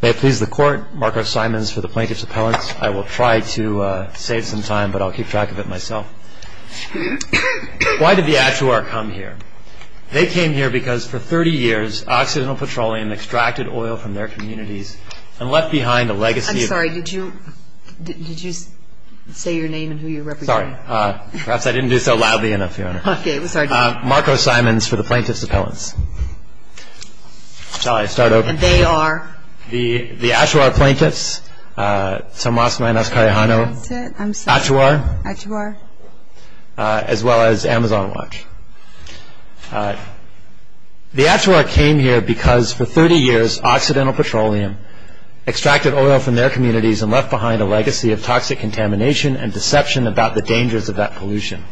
May it please the court, Marco Simons for the Plaintiff's Appellants. I will try to save some time, but I'll keep track of it myself. Why did the Atuar come here? They came here because for 30 years Occidental Petroleum extracted oil from their communities and left behind a legacy. I'm sorry, did you say your name and who you represent? Sorry, perhaps I didn't do so loudly enough, Your Honor. Okay, we're sorry. Marco Simons for the Plaintiff's Appellants. Shall I start over? They are? The Atuar Plaintiffs, Tomas Manos Carijano. That's it, I'm sorry. Atuar. Atuar. As well as Amazon Watch. The Atuar came here because for 30 years Occidental Petroleum extracted oil from their communities and left behind a legacy of toxic contamination and deception about the dangers of that pollution.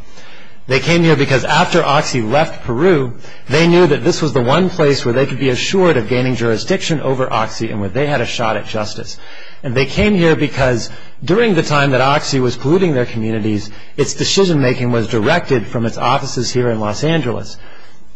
They came here because after Oxy left Peru, they knew that this was the one place where they could be assured of gaining jurisdiction over Oxy and where they had a shot at justice. And they came here because during the time that Oxy was polluting their communities, its decision making was directed from its offices here in Los Angeles.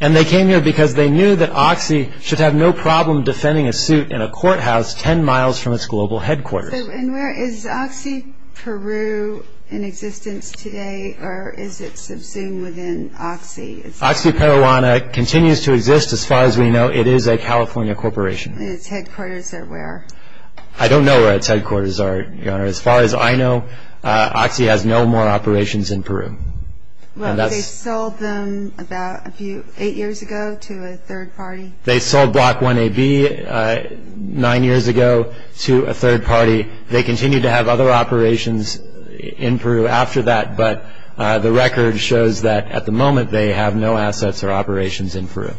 And they came here because they knew that Oxy should have no problem defending a suit in a courthouse 10 miles from its global headquarters. And where is Oxy Peru in existence today or is it subsumed within Oxy? Oxy Perijuana continues to exist as far as we know. It is a California corporation. And its headquarters are where? I don't know where its headquarters are, Your Honor. As far as I know, Oxy has no more operations in Peru. Well, they sold them about 8 years ago to a third party. They sold Block 1AB 9 years ago to a third party. They continue to have other operations in Peru after that, but the record shows that at the moment they have no assets or operations in Peru.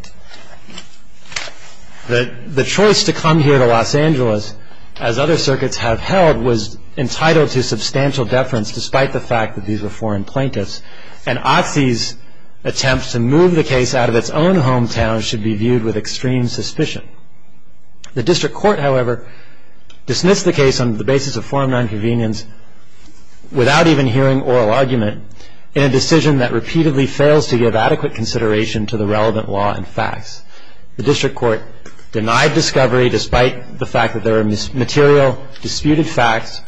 The choice to come here to Los Angeles, as other circuits have held, was entitled to substantial deference despite the fact that these were foreign plaintiffs. And Oxy's attempt to move the case out of its own hometown should be viewed with extreme suspicion. The district court, however, dismissed the case on the basis of foreign nonconvenience without even hearing oral argument in a decision that repeatedly fails to give adequate consideration to the relevant law and facts. The district court denied discovery despite the fact that there are material disputed facts,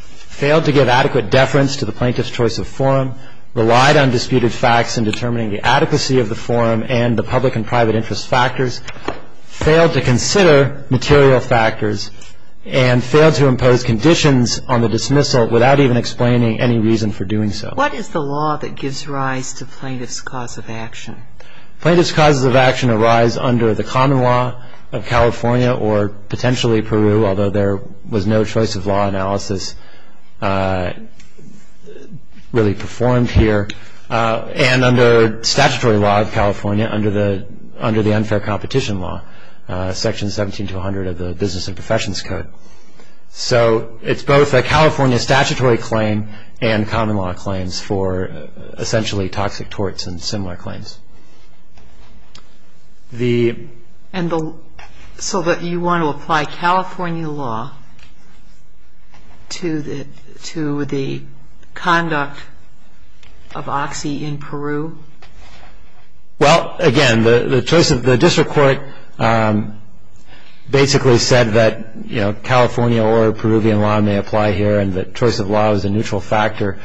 failed to give adequate deference to the plaintiff's choice of forum, relied on disputed facts in determining the adequacy of the forum and the public and private interest factors, failed to consider material factors, and failed to impose conditions on the dismissal without even explaining any reason for doing so. What is the law that gives rise to plaintiff's cause of action? Plaintiff's cause of action arise under the common law of California or potentially Peru, although there was no choice of law analysis really performed here, and under statutory law of California under the unfair competition law, Section 17200 of the Business and Professions Code. So it's both a California statutory claim and common law claims for essentially toxic torts and similar claims. And so you want to apply California law to the conduct of Oxy in Peru? Well, again, the district court basically said that California or Peruvian law may apply here and that choice of law is a neutral factor.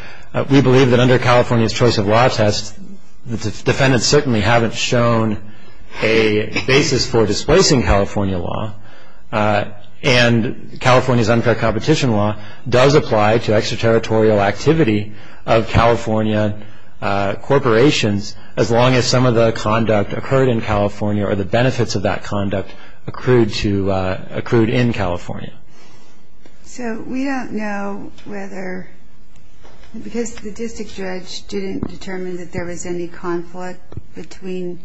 We believe that under California's choice of law test, the defendants certainly haven't shown a basis for displacing California law, and California's unfair competition law does apply to extraterritorial activity of California corporations as long as some of the conduct occurred in California or the benefits of that conduct accrued in California. So we don't know whether, because the district judge didn't determine that there was any conflict between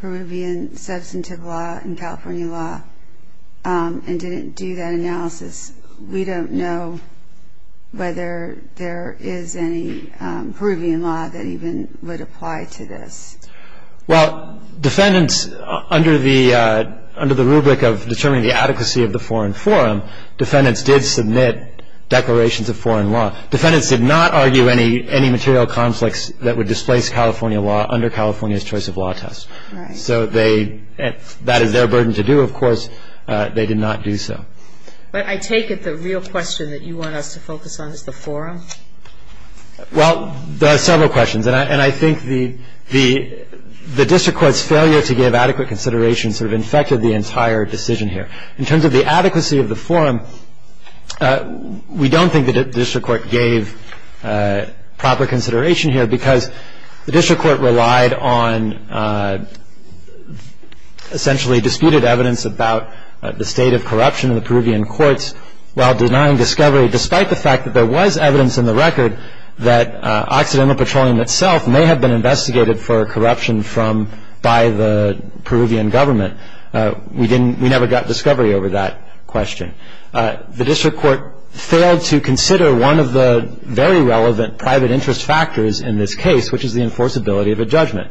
Peruvian substantive law and California law and didn't do that analysis, we don't know whether there is any Peruvian law that even would apply to this. Well, defendants, under the rubric of determining the adequacy of the foreign forum, defendants did submit declarations of foreign law. Defendants did not argue any material conflicts that would displace California law under California's choice of law test. So that is their burden to do, of course. They did not do so. But I take it the real question that you want us to focus on is the forum? Well, there are several questions. And I think the district court's failure to give adequate consideration sort of infected the entire decision here. In terms of the adequacy of the forum, we don't think the district court gave proper consideration here because the district court relied on essentially disputed evidence about the state of corruption in the Peruvian courts while denying discovery despite the fact that there was evidence in the record that Occidental Petroleum itself may have been investigated for corruption by the Peruvian government. We never got discovery over that question. The district court failed to consider one of the very relevant private interest factors in this case, which is the enforceability of a judgment.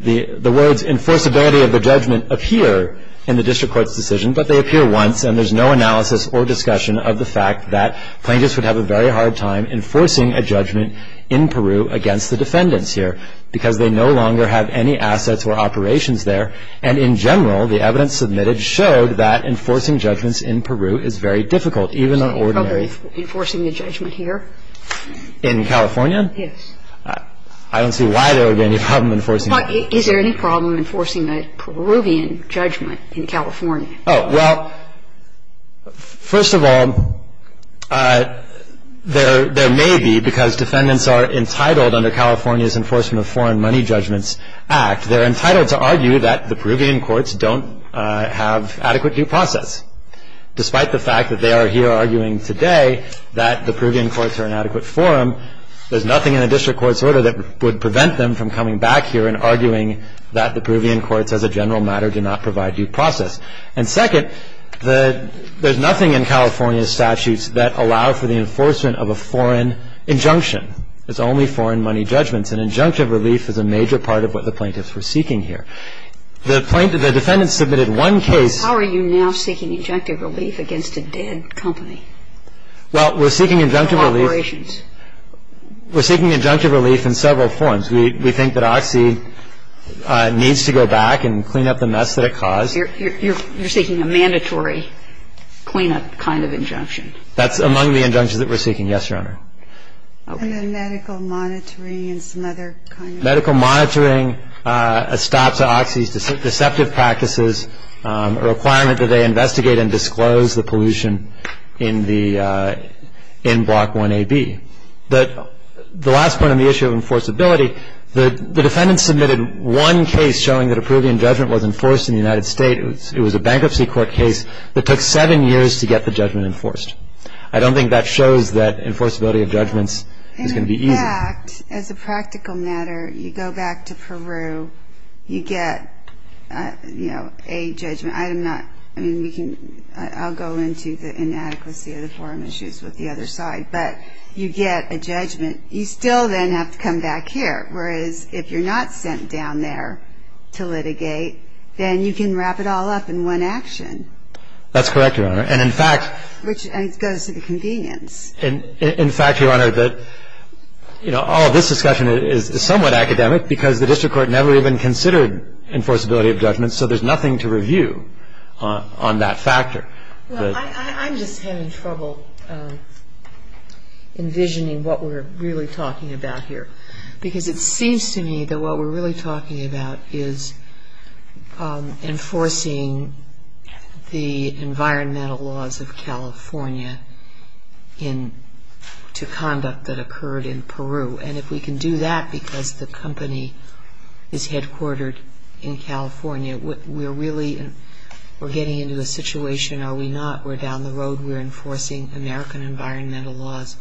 The words enforceability of a judgment appear in the district court's decision, but they appear once and there's no analysis or discussion of the fact that plaintiffs would have a very hard time enforcing a judgment in Peru against the defendants here because they no longer have any assets or operations there. And in general, the evidence submitted showed that enforcing judgments in Peru is very difficult, even on ordinary... Is there any problem enforcing a judgment here? In California? Yes. I don't see why there would be any problem enforcing... Is there any problem enforcing a Peruvian judgment in California? Well, first of all, there may be, because defendants are entitled under California's Enforcement of Foreign Money Judgments Act, they're entitled to argue that the Peruvian courts don't have adequate due process. Despite the fact that they are here arguing today that the Peruvian courts are an adequate forum, there's nothing in the district court's order that would prevent them from coming back here and arguing that the Peruvian courts as a general matter do not provide due process. And second, there's nothing in California's statutes that allow for the enforcement of a foreign injunction. It's only foreign money judgments. And injunctive relief is a major part of what the plaintiffs were seeking here. The defendant submitted one case... How are you now seeking injunctive relief against a dead company? Well, we're seeking injunctive relief... Operations. We're seeking injunctive relief in several forms. We think that Oxy needs to go back and clean up the mess that it caused. You're seeking a mandatory cleanup kind of injunction. That's among the injunctions that we're seeking, yes, Your Honor. And then medical monitoring and some other kind of... Medical monitoring, a stop to Oxy's deceptive practices, a requirement that they investigate and disclose the pollution in the, in Block 1AB. The last point on the issue of enforceability, the defendant submitted one case showing that a Peruvian judgment was enforced in the United States. It was a bankruptcy court case that took seven years to get the judgment enforced. I don't think that shows that enforceability of judgments is going to be easy. In fact, as a practical matter, you go back to Peru, you get, you know, a judgment. I am not, I mean, we can, I'll go into the inadequacy of the forum issues with the other side. But you get a judgment. You still then have to come back here. Whereas if you're not sent down there to litigate, then you can wrap it all up in one action. That's correct, Your Honor. And in fact... Which goes to the convenience. In fact, Your Honor, that, you know, all of this discussion is somewhat academic because the district court never even considered enforceability of judgments, so there's nothing to review on that factor. Well, I'm just having trouble envisioning what we're really talking about here because it seems to me that what we're really talking about is enforcing the environmental laws of California in, to conduct that occurred in Peru. And if we can do that because the company is headquartered in California, we're really, we're getting into a situation, are we not, we're down the road, we're enforcing American environmental laws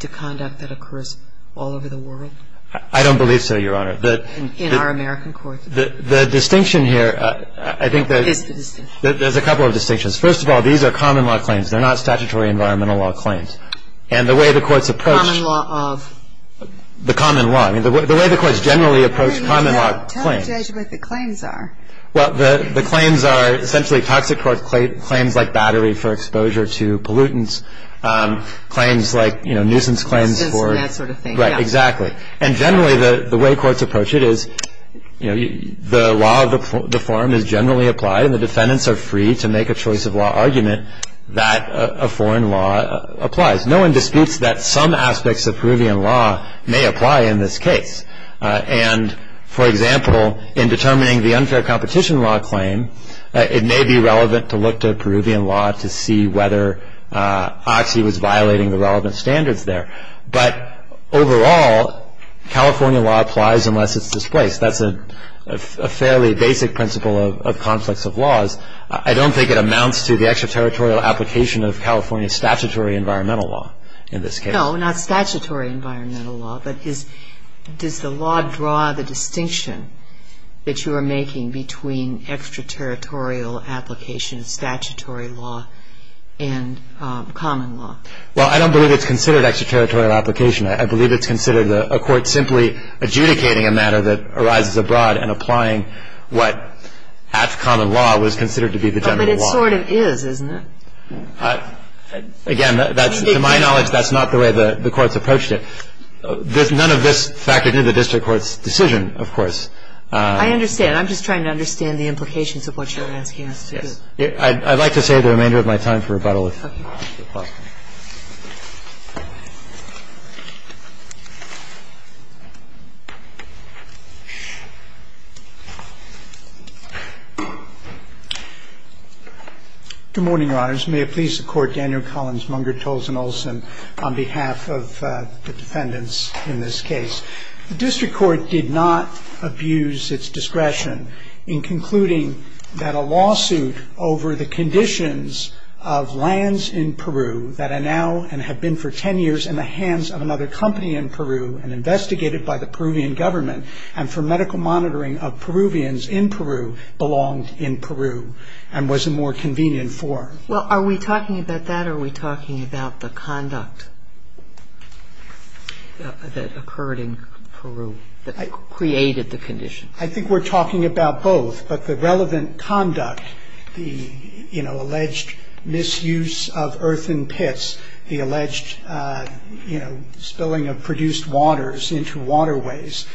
to conduct that occurs all over the world? I don't believe so, Your Honor. In our American courts. The distinction here, I think that... What is the distinction? There's a couple of distinctions. First of all, these are common law claims. They're not statutory environmental law claims. And the way the courts approach... Common law of? The common law. I mean, the way the courts generally approach common law claims... Tell the judge what the claims are. Well, the claims are essentially toxic court claims like battery for exposure to pollutants. Claims like, you know, nuisance claims for... That sort of thing. Right, exactly. And generally, the way courts approach it is, you know, the law of the forum is generally applied and the defendants are free to make a choice of law argument that a foreign law applies. No one disputes that some aspects of Peruvian law may apply in this case. And, for example, in determining the unfair competition law claim, it may be relevant to look to Peruvian law to see whether Oxy was violating the relevant standards there. But overall, California law applies unless it's displaced. That's a fairly basic principle of conflicts of laws. I don't think it amounts to the extraterritorial application of California statutory environmental law in this case. No, not statutory environmental law, but does the law draw the distinction that you are making between extraterritorial application of statutory law and common law? Well, I don't believe it's considered extraterritorial application. I believe it's considered a court simply adjudicating a matter that arises abroad and applying what, at common law, was considered to be the general law. But it sort of is, isn't it? Again, to my knowledge, that's not the way the courts approached it. None of this factored into the district court's decision, of course. I understand. I'm just trying to understand the implications of what you're asking us to do. Yes. I'd like to save the remainder of my time for rebuttal, if that's possible. Good morning, Your Honors. May it please the Court, Daniel Collins, Munger, Tolson, Olson, on behalf of the defendants in this case. The district court did not abuse its discretion in concluding that a lawsuit over the conditions of lands in Peru that are now and have been for 10 years in the hands of another company in Peru and investigated by the Peruvian government and for medical monitoring of Peruvians in Peru belonged in Peru and was a more convenient form. Well, are we talking about that or are we talking about the conduct that occurred in Peru that created the conditions? I think we're talking about both, but the relevant conduct, the alleged misuse of earthen pits, the alleged spilling of produced waters into waterways,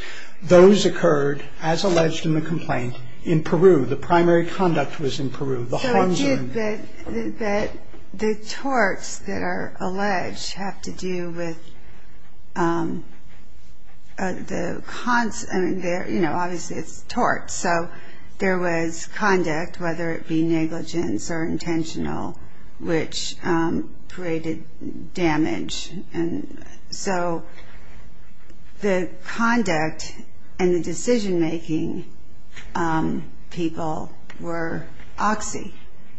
those occurred, as alleged in the complaint, in Peru. The primary conduct was in Peru. So it did, but the torts that are alleged have to do with the, you know, obviously it's torts. So there was conduct, whether it be negligence or intentional, which created damage. And so the conduct and the decision-making people were OXI,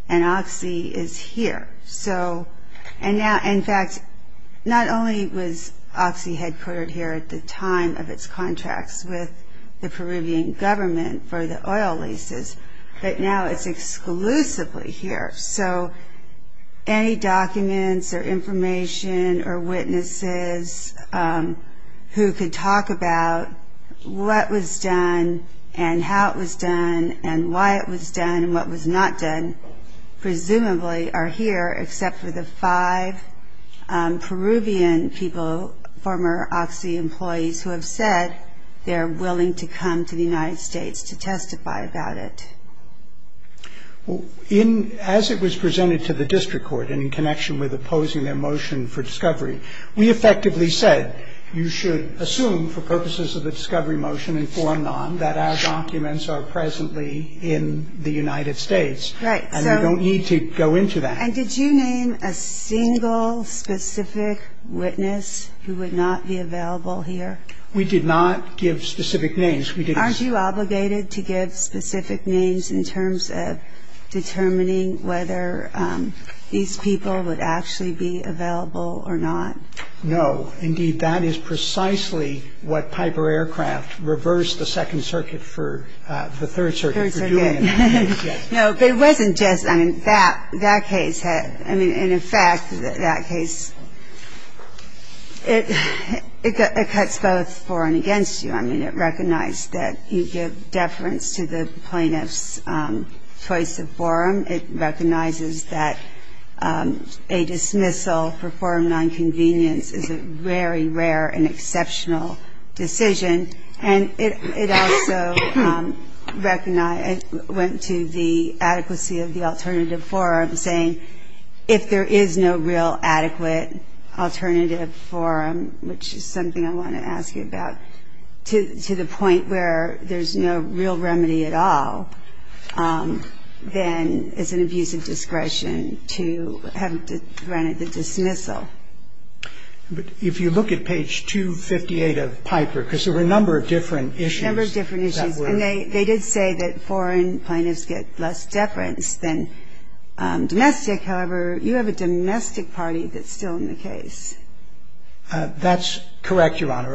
and OXI is here. So and now, in fact, not only was OXI headquartered here at the time of its contracts with the Peruvian government for the oil leases, but now it's exclusively here. So any documents or information or witnesses who could talk about what was done and how it was done and why it was done and what was not done presumably are here, except for the five Peruvian people, former OXI employees, who have said they're willing to come to the United States to testify about it. In, as it was presented to the district court in connection with opposing their motion for discovery, we effectively said you should assume for purposes of the discovery motion and for and non that our documents are presently in the United States. Right. And we don't need to go into that. And did you name a single specific witness who would not be available here? We did not give specific names. Aren't you obligated to give specific names in terms of determining whether these people would actually be available or not? No. Indeed, that is precisely what Piper Aircraft reversed the Second Circuit for, the Third Circuit for doing. No, but it wasn't just. I mean, that case had, I mean, and in fact, that case, it cuts both for and against you. I mean, it recognized that you give deference to the plaintiff's choice of forum. It recognizes that a dismissal for forum nonconvenience is a very rare and exceptional decision. And it also went to the adequacy of the alternative forum, saying if there is no real adequate alternative forum, which is something I want to ask you about, to the point where there's no real remedy at all, then it's an abuse of discretion to have granted the dismissal. But if you look at page 258 of Piper, because there were a number of different issues. A number of different issues. And they did say that foreign plaintiffs get less deference than domestic. However, you have a domestic party that's still in the case. That's correct, Your Honor.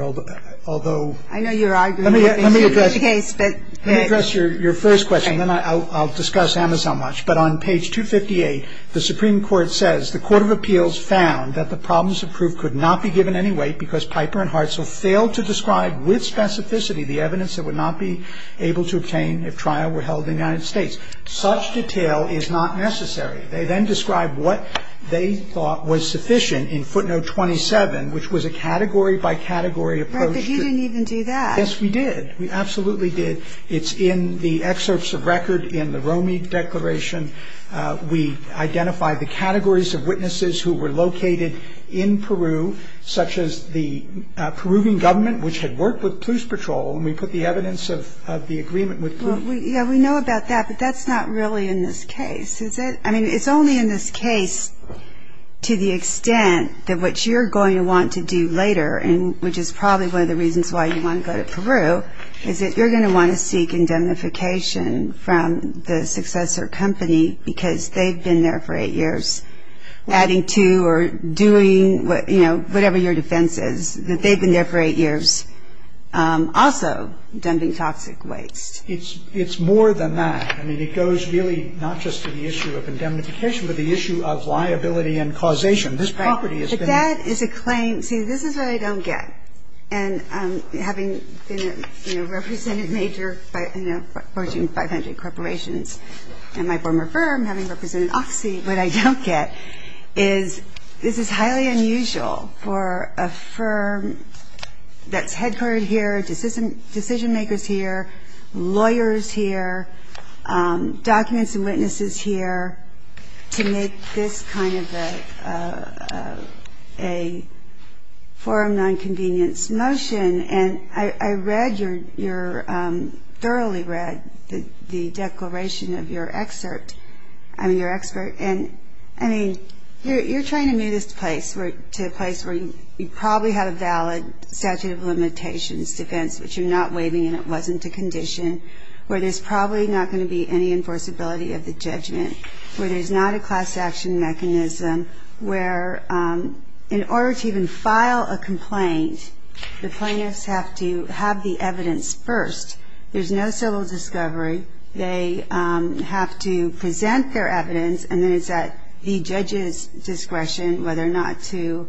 Although. I know you're arguing. Let me address your first question. Then I'll discuss Amazon much. But on page 258, the Supreme Court says the court of appeals found that the problems of proof could not be given any weight because Piper and Hartzell failed to describe with specificity the evidence that would not be able to obtain if trial were held in the United States. Such detail is not necessary. They then described what they thought was sufficient in footnote 27, which was a category-by-category approach to. Right. But you didn't even do that. Yes, we did. We absolutely did. It's in the excerpts of record in the Romi Declaration. We identified the categories of witnesses who were located in Peru, such as the Peruvian government, which had worked with police patrol, and we put the evidence of the agreement with Peru. Yeah, we know about that, but that's not really in this case, is it? I mean, it's only in this case to the extent that what you're going to want to do later, which is probably one of the reasons why you want to go to Peru, is that you're going to want to seek indemnification from the successor company because they've been there for eight years, adding to or doing, you know, whatever your defense is, that they've been there for eight years, also dumping toxic waste. It's more than that. I mean, it goes really not just to the issue of indemnification, but the issue of liability and causation. This property has been ---- Right. But that is a claim. See, this is what I don't get. And having been a representative major in approaching 500 corporations and my former firm having represented Oxy, what I don't get is this is highly unusual for a firm that's headquartered here, decision makers here, lawyers here, documents and witnesses here, to make this kind of a forum nonconvenience motion. And I read your ---- thoroughly read the declaration of your excerpt ---- I mean, your excerpt. And, I mean, you're trying to move this place to a place where you probably have a valid statute of limitations, defense, which you're not waiving and it wasn't a condition, where there's probably not going to be any enforceability of the judgment, where there's not a class action mechanism, where in order to even file a complaint the plaintiffs have to have the evidence first. There's no civil discovery. They have to present their evidence, and then it's at the judge's discretion whether or not to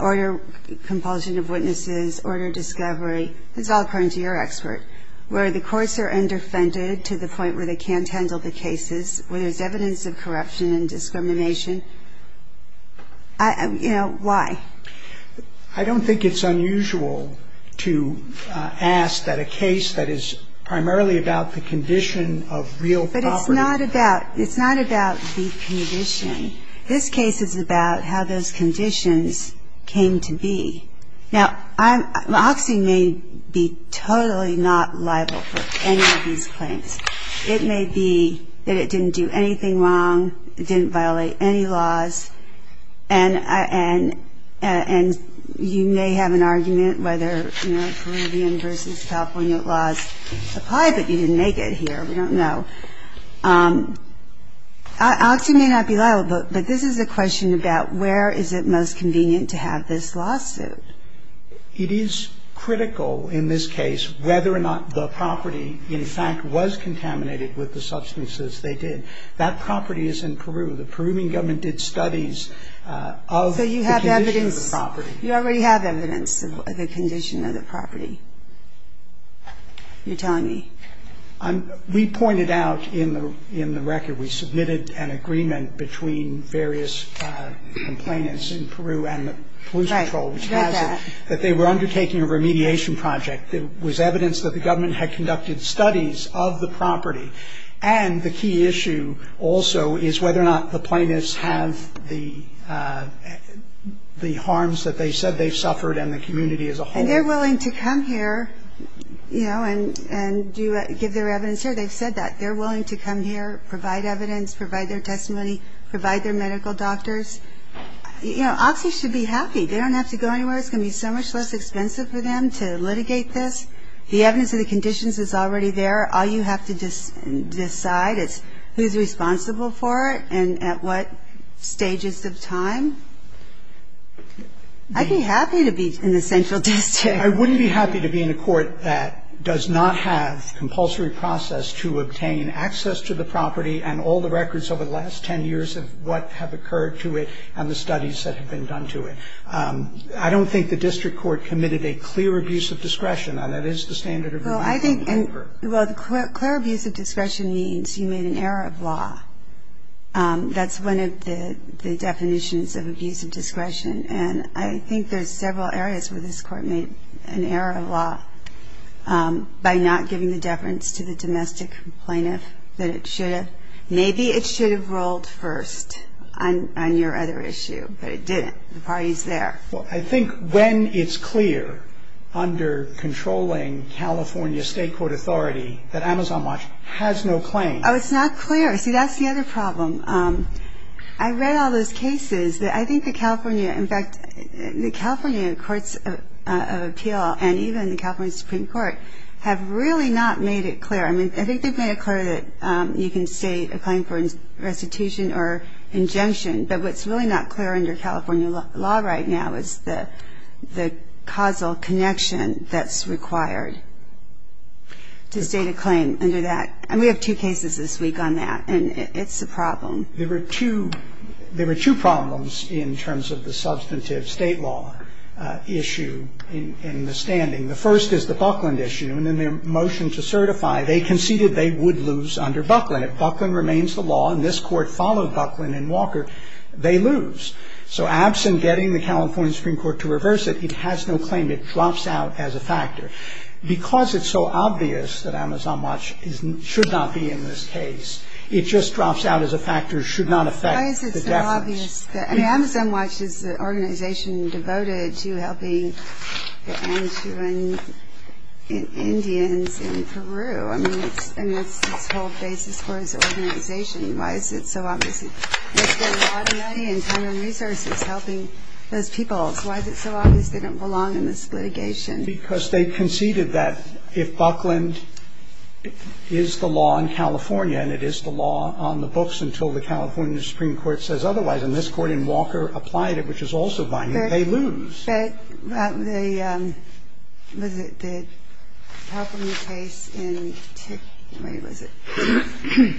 order compulsion of witnesses, order discovery. It's all according to your excerpt. And I think it's unusual for a firm to have a case like this where there's evidence of corruption and discrimination where the courts are underfunded to the point where they can't handle the cases, where there's evidence of corruption and discrimination. You know, why? I don't think it's unusual to ask that a case that is primarily about the condition of real property. It's not about the condition. This case is about how those conditions came to be. Now, Hoxie may be totally not liable for any of these claims. It may be that it didn't do anything wrong, it didn't violate any laws, and you may have an argument whether Peruvian versus California laws apply, but you didn't make it here. We don't know. Alex, you may not be liable, but this is a question about where is it most convenient to have this lawsuit. It is critical in this case whether or not the property in fact was contaminated with the substances they did. That property is in Peru. The Peruvian government did studies of the condition of the property. So you have evidence. You already have evidence of the condition of the property. You're telling me. We pointed out in the record we submitted an agreement between various complainants in Peru and the Pollution Control, which has it that they were undertaking a remediation project. It was evidence that the government had conducted studies of the property. And the key issue also is whether or not the plaintiffs have the harms that they said they've suffered and the community as a whole. And they're willing to come here, you know, and give their evidence here. They've said that. They're willing to come here, provide evidence, provide their testimony, provide their medical doctors. You know, officers should be happy. They don't have to go anywhere. It's going to be so much less expensive for them to litigate this. The evidence of the conditions is already there. All you have to decide is who's responsible for it and at what stages of time. I'd be happy to be in the central district. I wouldn't be happy to be in a court that does not have compulsory process to obtain access to the property and all the records over the last 10 years of what have occurred to it and the studies that have been done to it. I don't think the district court committed a clear abuse of discretion. Now, that is the standard of review in Denver. Well, I think the clear abuse of discretion means you made an error of law. That's one of the definitions of abuse of discretion, and I think there's several areas where this court made an error of law by not giving the deference to the domestic plaintiff that it should have. Maybe it should have rolled first on your other issue, but it didn't. The party's there. Well, I think when it's clear under controlling California state court authority that Amazon Watch has no claims. Oh, it's not clear. See, that's the other problem. I read all those cases that I think the California, in fact, the California Courts of Appeal and even the California Supreme Court have really not made it clear. I mean, I think they've made it clear that you can state a claim for restitution or injunction, but what's really not clear under California law right now is the causal connection that's required to state a claim under that. And we have two cases this week on that, and it's a problem. There were two problems in terms of the substantive state law issue in the standing. The first is the Buckland issue, and in their motion to certify, they conceded they would lose under Buckland. If Buckland remains the law and this court followed Buckland and Walker, they lose. So absent getting the California Supreme Court to reverse it, it has no claim. It drops out as a factor. Because it's so obvious that Amazon Watch should not be in this case, it just drops out as a factor, should not affect the deference. Why is it so obvious? I mean, Amazon Watch is an organization devoted to helping the Anishinaabemowin Indians in Peru. I mean, that's its whole basis for its organization. Why is it so obvious? There's been a lot of money and time and resources helping those peoples. Why is it so obvious they don't belong in this litigation? Because they conceded that if Buckland is the law in California and it is the law on the books until the California Supreme Court says otherwise, and this court and Walker applied it, which is also binding, they lose. But the – what is it? The problem case in – wait, what is it? I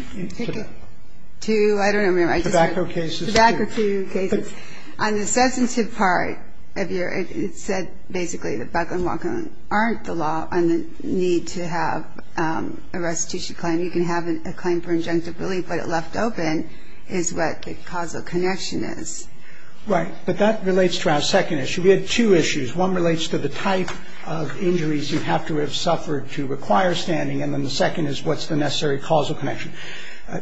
don't remember. Tobacco cases. Tobacco cases. On the substantive part of your – it said basically that Buckland and Walker aren't the law on the need to have a restitution claim. You can have a claim for injunctive relief, but left open is what the causal connection is. Right. But that relates to our second issue. We had two issues. One relates to the type of injuries you have to have suffered to require standing, and then the second is what's the necessary causal connection.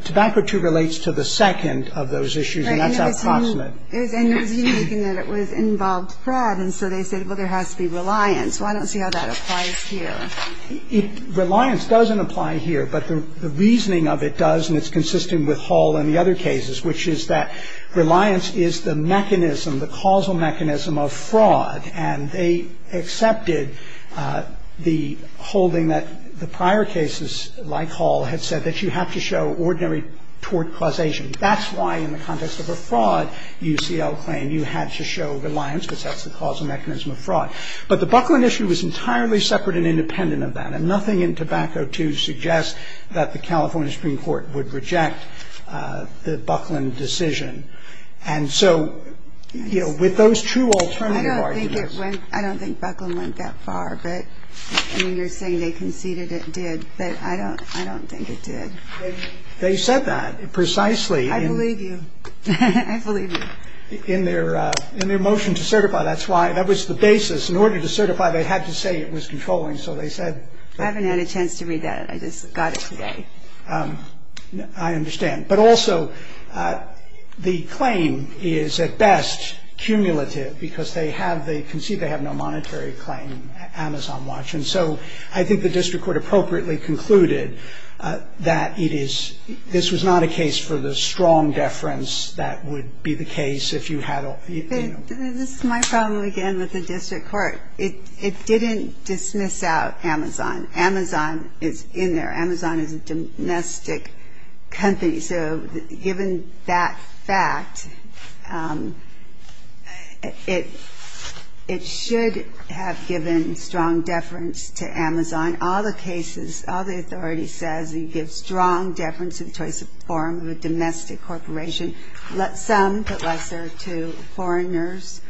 Tobacco too relates to the second of those issues, and that's approximate. And it was you making that it involved Pratt, and so they said, well, there has to be reliance. Well, I don't see how that applies here. Reliance doesn't apply here, but the reasoning of it does, and it's consistent with Hall and the other cases, which is that reliance is the mechanism, the causal mechanism of fraud, and they accepted the holding that the prior cases like Hall had said that you have to show ordinary tort causation. That's why in the context of a fraud UCL claim, you had to show reliance, because that's the causal mechanism of fraud. But the Buckland issue was entirely separate and independent of that, and nothing in tobacco too suggests that the California Supreme Court would reject the Buckland decision. And so, you know, with those two alternative arguments. I don't think it went, I don't think Buckland went that far, but, I mean, you're saying they conceded it did, but I don't, I don't think it did. They said that precisely. I believe you. I believe you. In their motion to certify, that's why, that was the basis. In order to certify, they had to say it was controlling, so they said. I haven't had a chance to read that. I just got it today. I understand. But also, the claim is at best cumulative, because they have, they concede they have no monetary claim, Amazon watch. And so I think the district court appropriately concluded that it is, this was not a case for the strong deference that would be the case if you had a, you know. This is my problem again with the district court. It didn't dismiss out Amazon. Amazon is in there. Amazon is a domestic company. So, given that fact, it, it should have given strong deference to Amazon. All the cases, all the authority says you give strong deference to the choice of form of a domestic corporation. Some, but lesser to foreigners.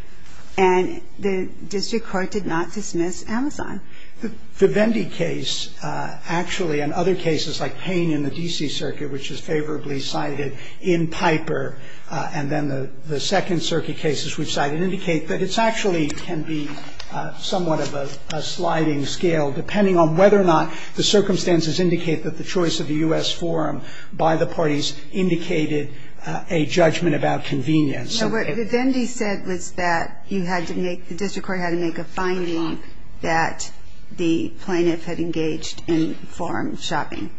And the district court did not dismiss Amazon. The Vendee case, actually, and other cases like Payne in the D.C. circuit, which is favorably cited in Piper, and then the, the second circuit cases we've cited, indicate that it's actually can be somewhat of a, a sliding scale, depending on whether or not the circumstances indicate that the choice of the U.S. forum by the parties indicated a judgment about convenience. No, what the Vendee said was that you had to make, the district court had to make a finding that the plaintiff had engaged in forum shopping.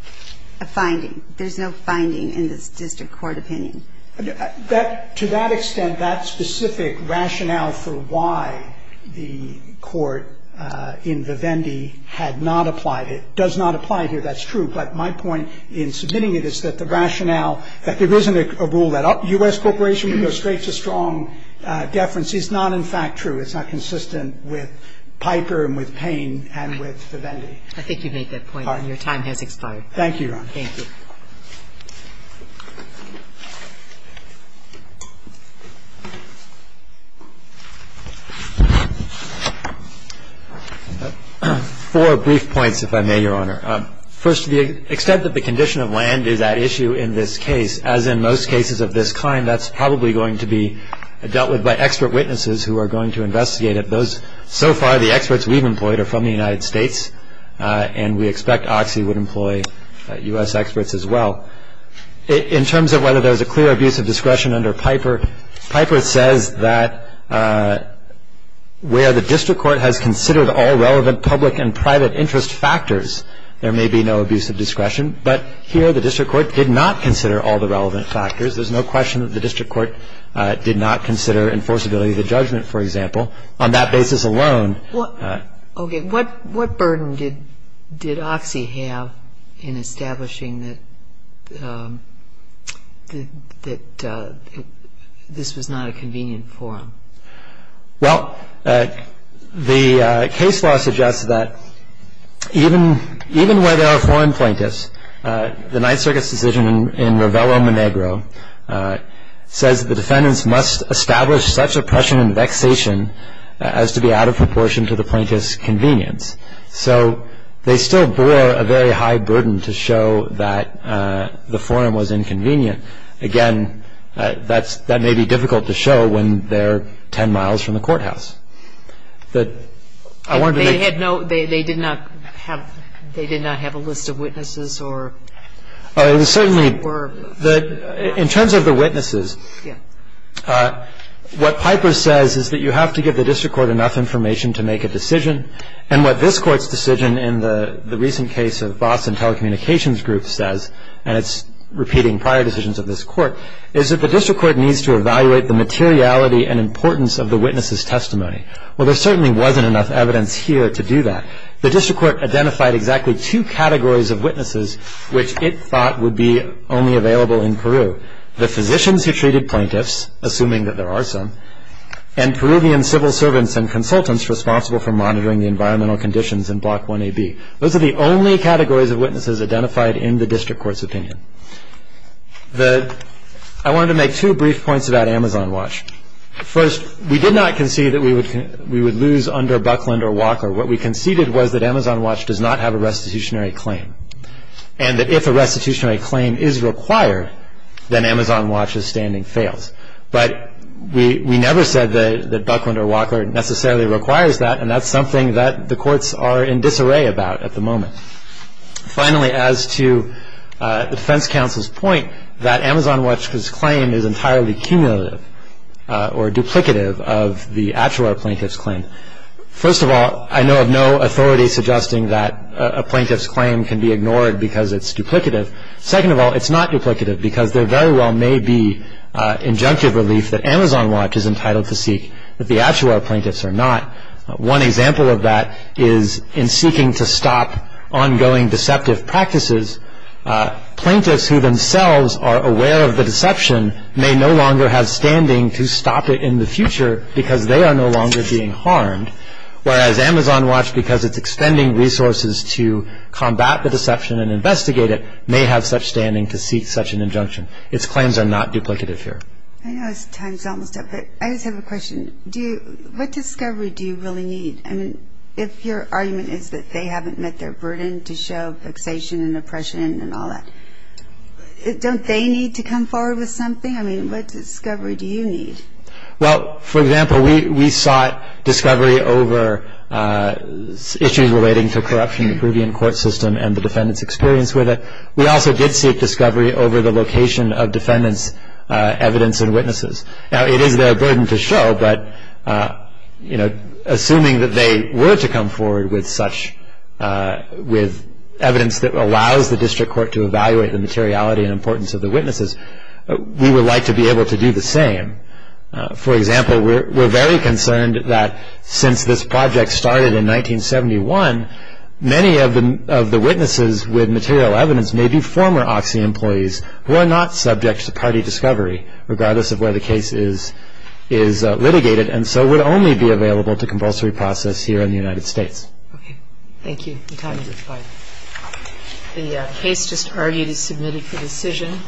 A finding. There's no finding in this district court opinion. That, to that extent, that specific rationale for why the court in the Vendee had not applied it does not apply here. That's true. But my point in submitting it is that the rationale that there isn't a rule that a U.S. corporation would go straight to strong deference is not in fact true. It's not consistent with Piper and with Payne and with the Vendee. I think you've made that point. Your time has expired. Thank you, Your Honor. Thank you. Four brief points, if I may, Your Honor. First, to the extent that the condition of land is at issue in this case, as in most cases of this kind, that's probably going to be dealt with by expert witnesses who are going to investigate it. Those, so far, the experts we've employed are from the United States, and we expect OXI would employ U.S. experts as well. In terms of whether there's a clear abuse of discretion under Piper, Piper says that where the district court has considered all relevant public and private interest factors, there may be no abuse of discretion. But here the district court did not consider all the relevant factors. There's no question that the district court did not consider enforceability of the judgment, for example. On that basis alone ---- Okay. What burden did OXI have in establishing that this was not a convenient forum? Well, the case law suggests that even where there are foreign plaintiffs, the Ninth Circuit says that the defendants must establish such oppression and vexation as to be out of proportion to the plaintiff's convenience. So they still bore a very high burden to show that the forum was inconvenient. Again, that may be difficult to show when they're ten miles from the courthouse. I wanted to make ---- They did not have a list of witnesses or ---- In terms of the witnesses, what Piper says is that you have to give the district court enough information to make a decision. And what this Court's decision in the recent case of Boston Telecommunications Group says, and it's repeating prior decisions of this Court, is that the district court needs to evaluate the materiality and importance of the witness's testimony. Well, there certainly wasn't enough evidence here to do that. The district court identified exactly two categories of witnesses which it thought would be only available in Peru, the physicians who treated plaintiffs, assuming that there are some, and Peruvian civil servants and consultants responsible for monitoring the environmental conditions in Block 1AB. Those are the only categories of witnesses identified in the district court's opinion. I wanted to make two brief points about Amazon Watch. First, we did not concede that we would lose under Buckland or Walker. What we conceded was that Amazon Watch does not have a restitutionary claim, and that if a restitutionary claim is required, then Amazon Watch's standing fails. But we never said that Buckland or Walker necessarily requires that, and that's something that the courts are in disarray about at the moment. Finally, as to the defense counsel's point, that Amazon Watch's claim is entirely cumulative or duplicative of the actual plaintiff's claim. First of all, I know of no authority suggesting that a plaintiff's claim can be ignored because it's duplicative. Second of all, it's not duplicative because there very well may be injunctive relief that Amazon Watch is entitled to seek that the actual plaintiffs are not. One example of that is in seeking to stop ongoing deceptive practices, plaintiffs who themselves are aware of the deception may no longer have standing to stop it in the future because they are no longer being harmed, whereas Amazon Watch, because it's extending resources to combat the deception and investigate it, may have such standing to seek such an injunction. Its claims are not duplicative here. I know time's almost up, but I just have a question. What discovery do you really need? I mean, if your argument is that they haven't met their burden to show fixation and oppression and all that, don't they need to come forward with something? I mean, what discovery do you need? Well, for example, we sought discovery over issues relating to corruption in the Peruvian court system and the defendants' experience with it. We also did seek discovery over the location of defendants' evidence and witnesses. Now, it is their burden to show, but, you know, assuming that they were to come forward with evidence that allows the district court to evaluate the materiality and importance of the witnesses, we would like to be able to do the same. For example, we're very concerned that since this project started in 1971, many of the witnesses with material evidence may be former Oxy employees who are not subject to party discovery, regardless of where the case is litigated, and so would only be available to compulsory process here in the United States. Okay. Thank you. The case just argued is submitted for decision.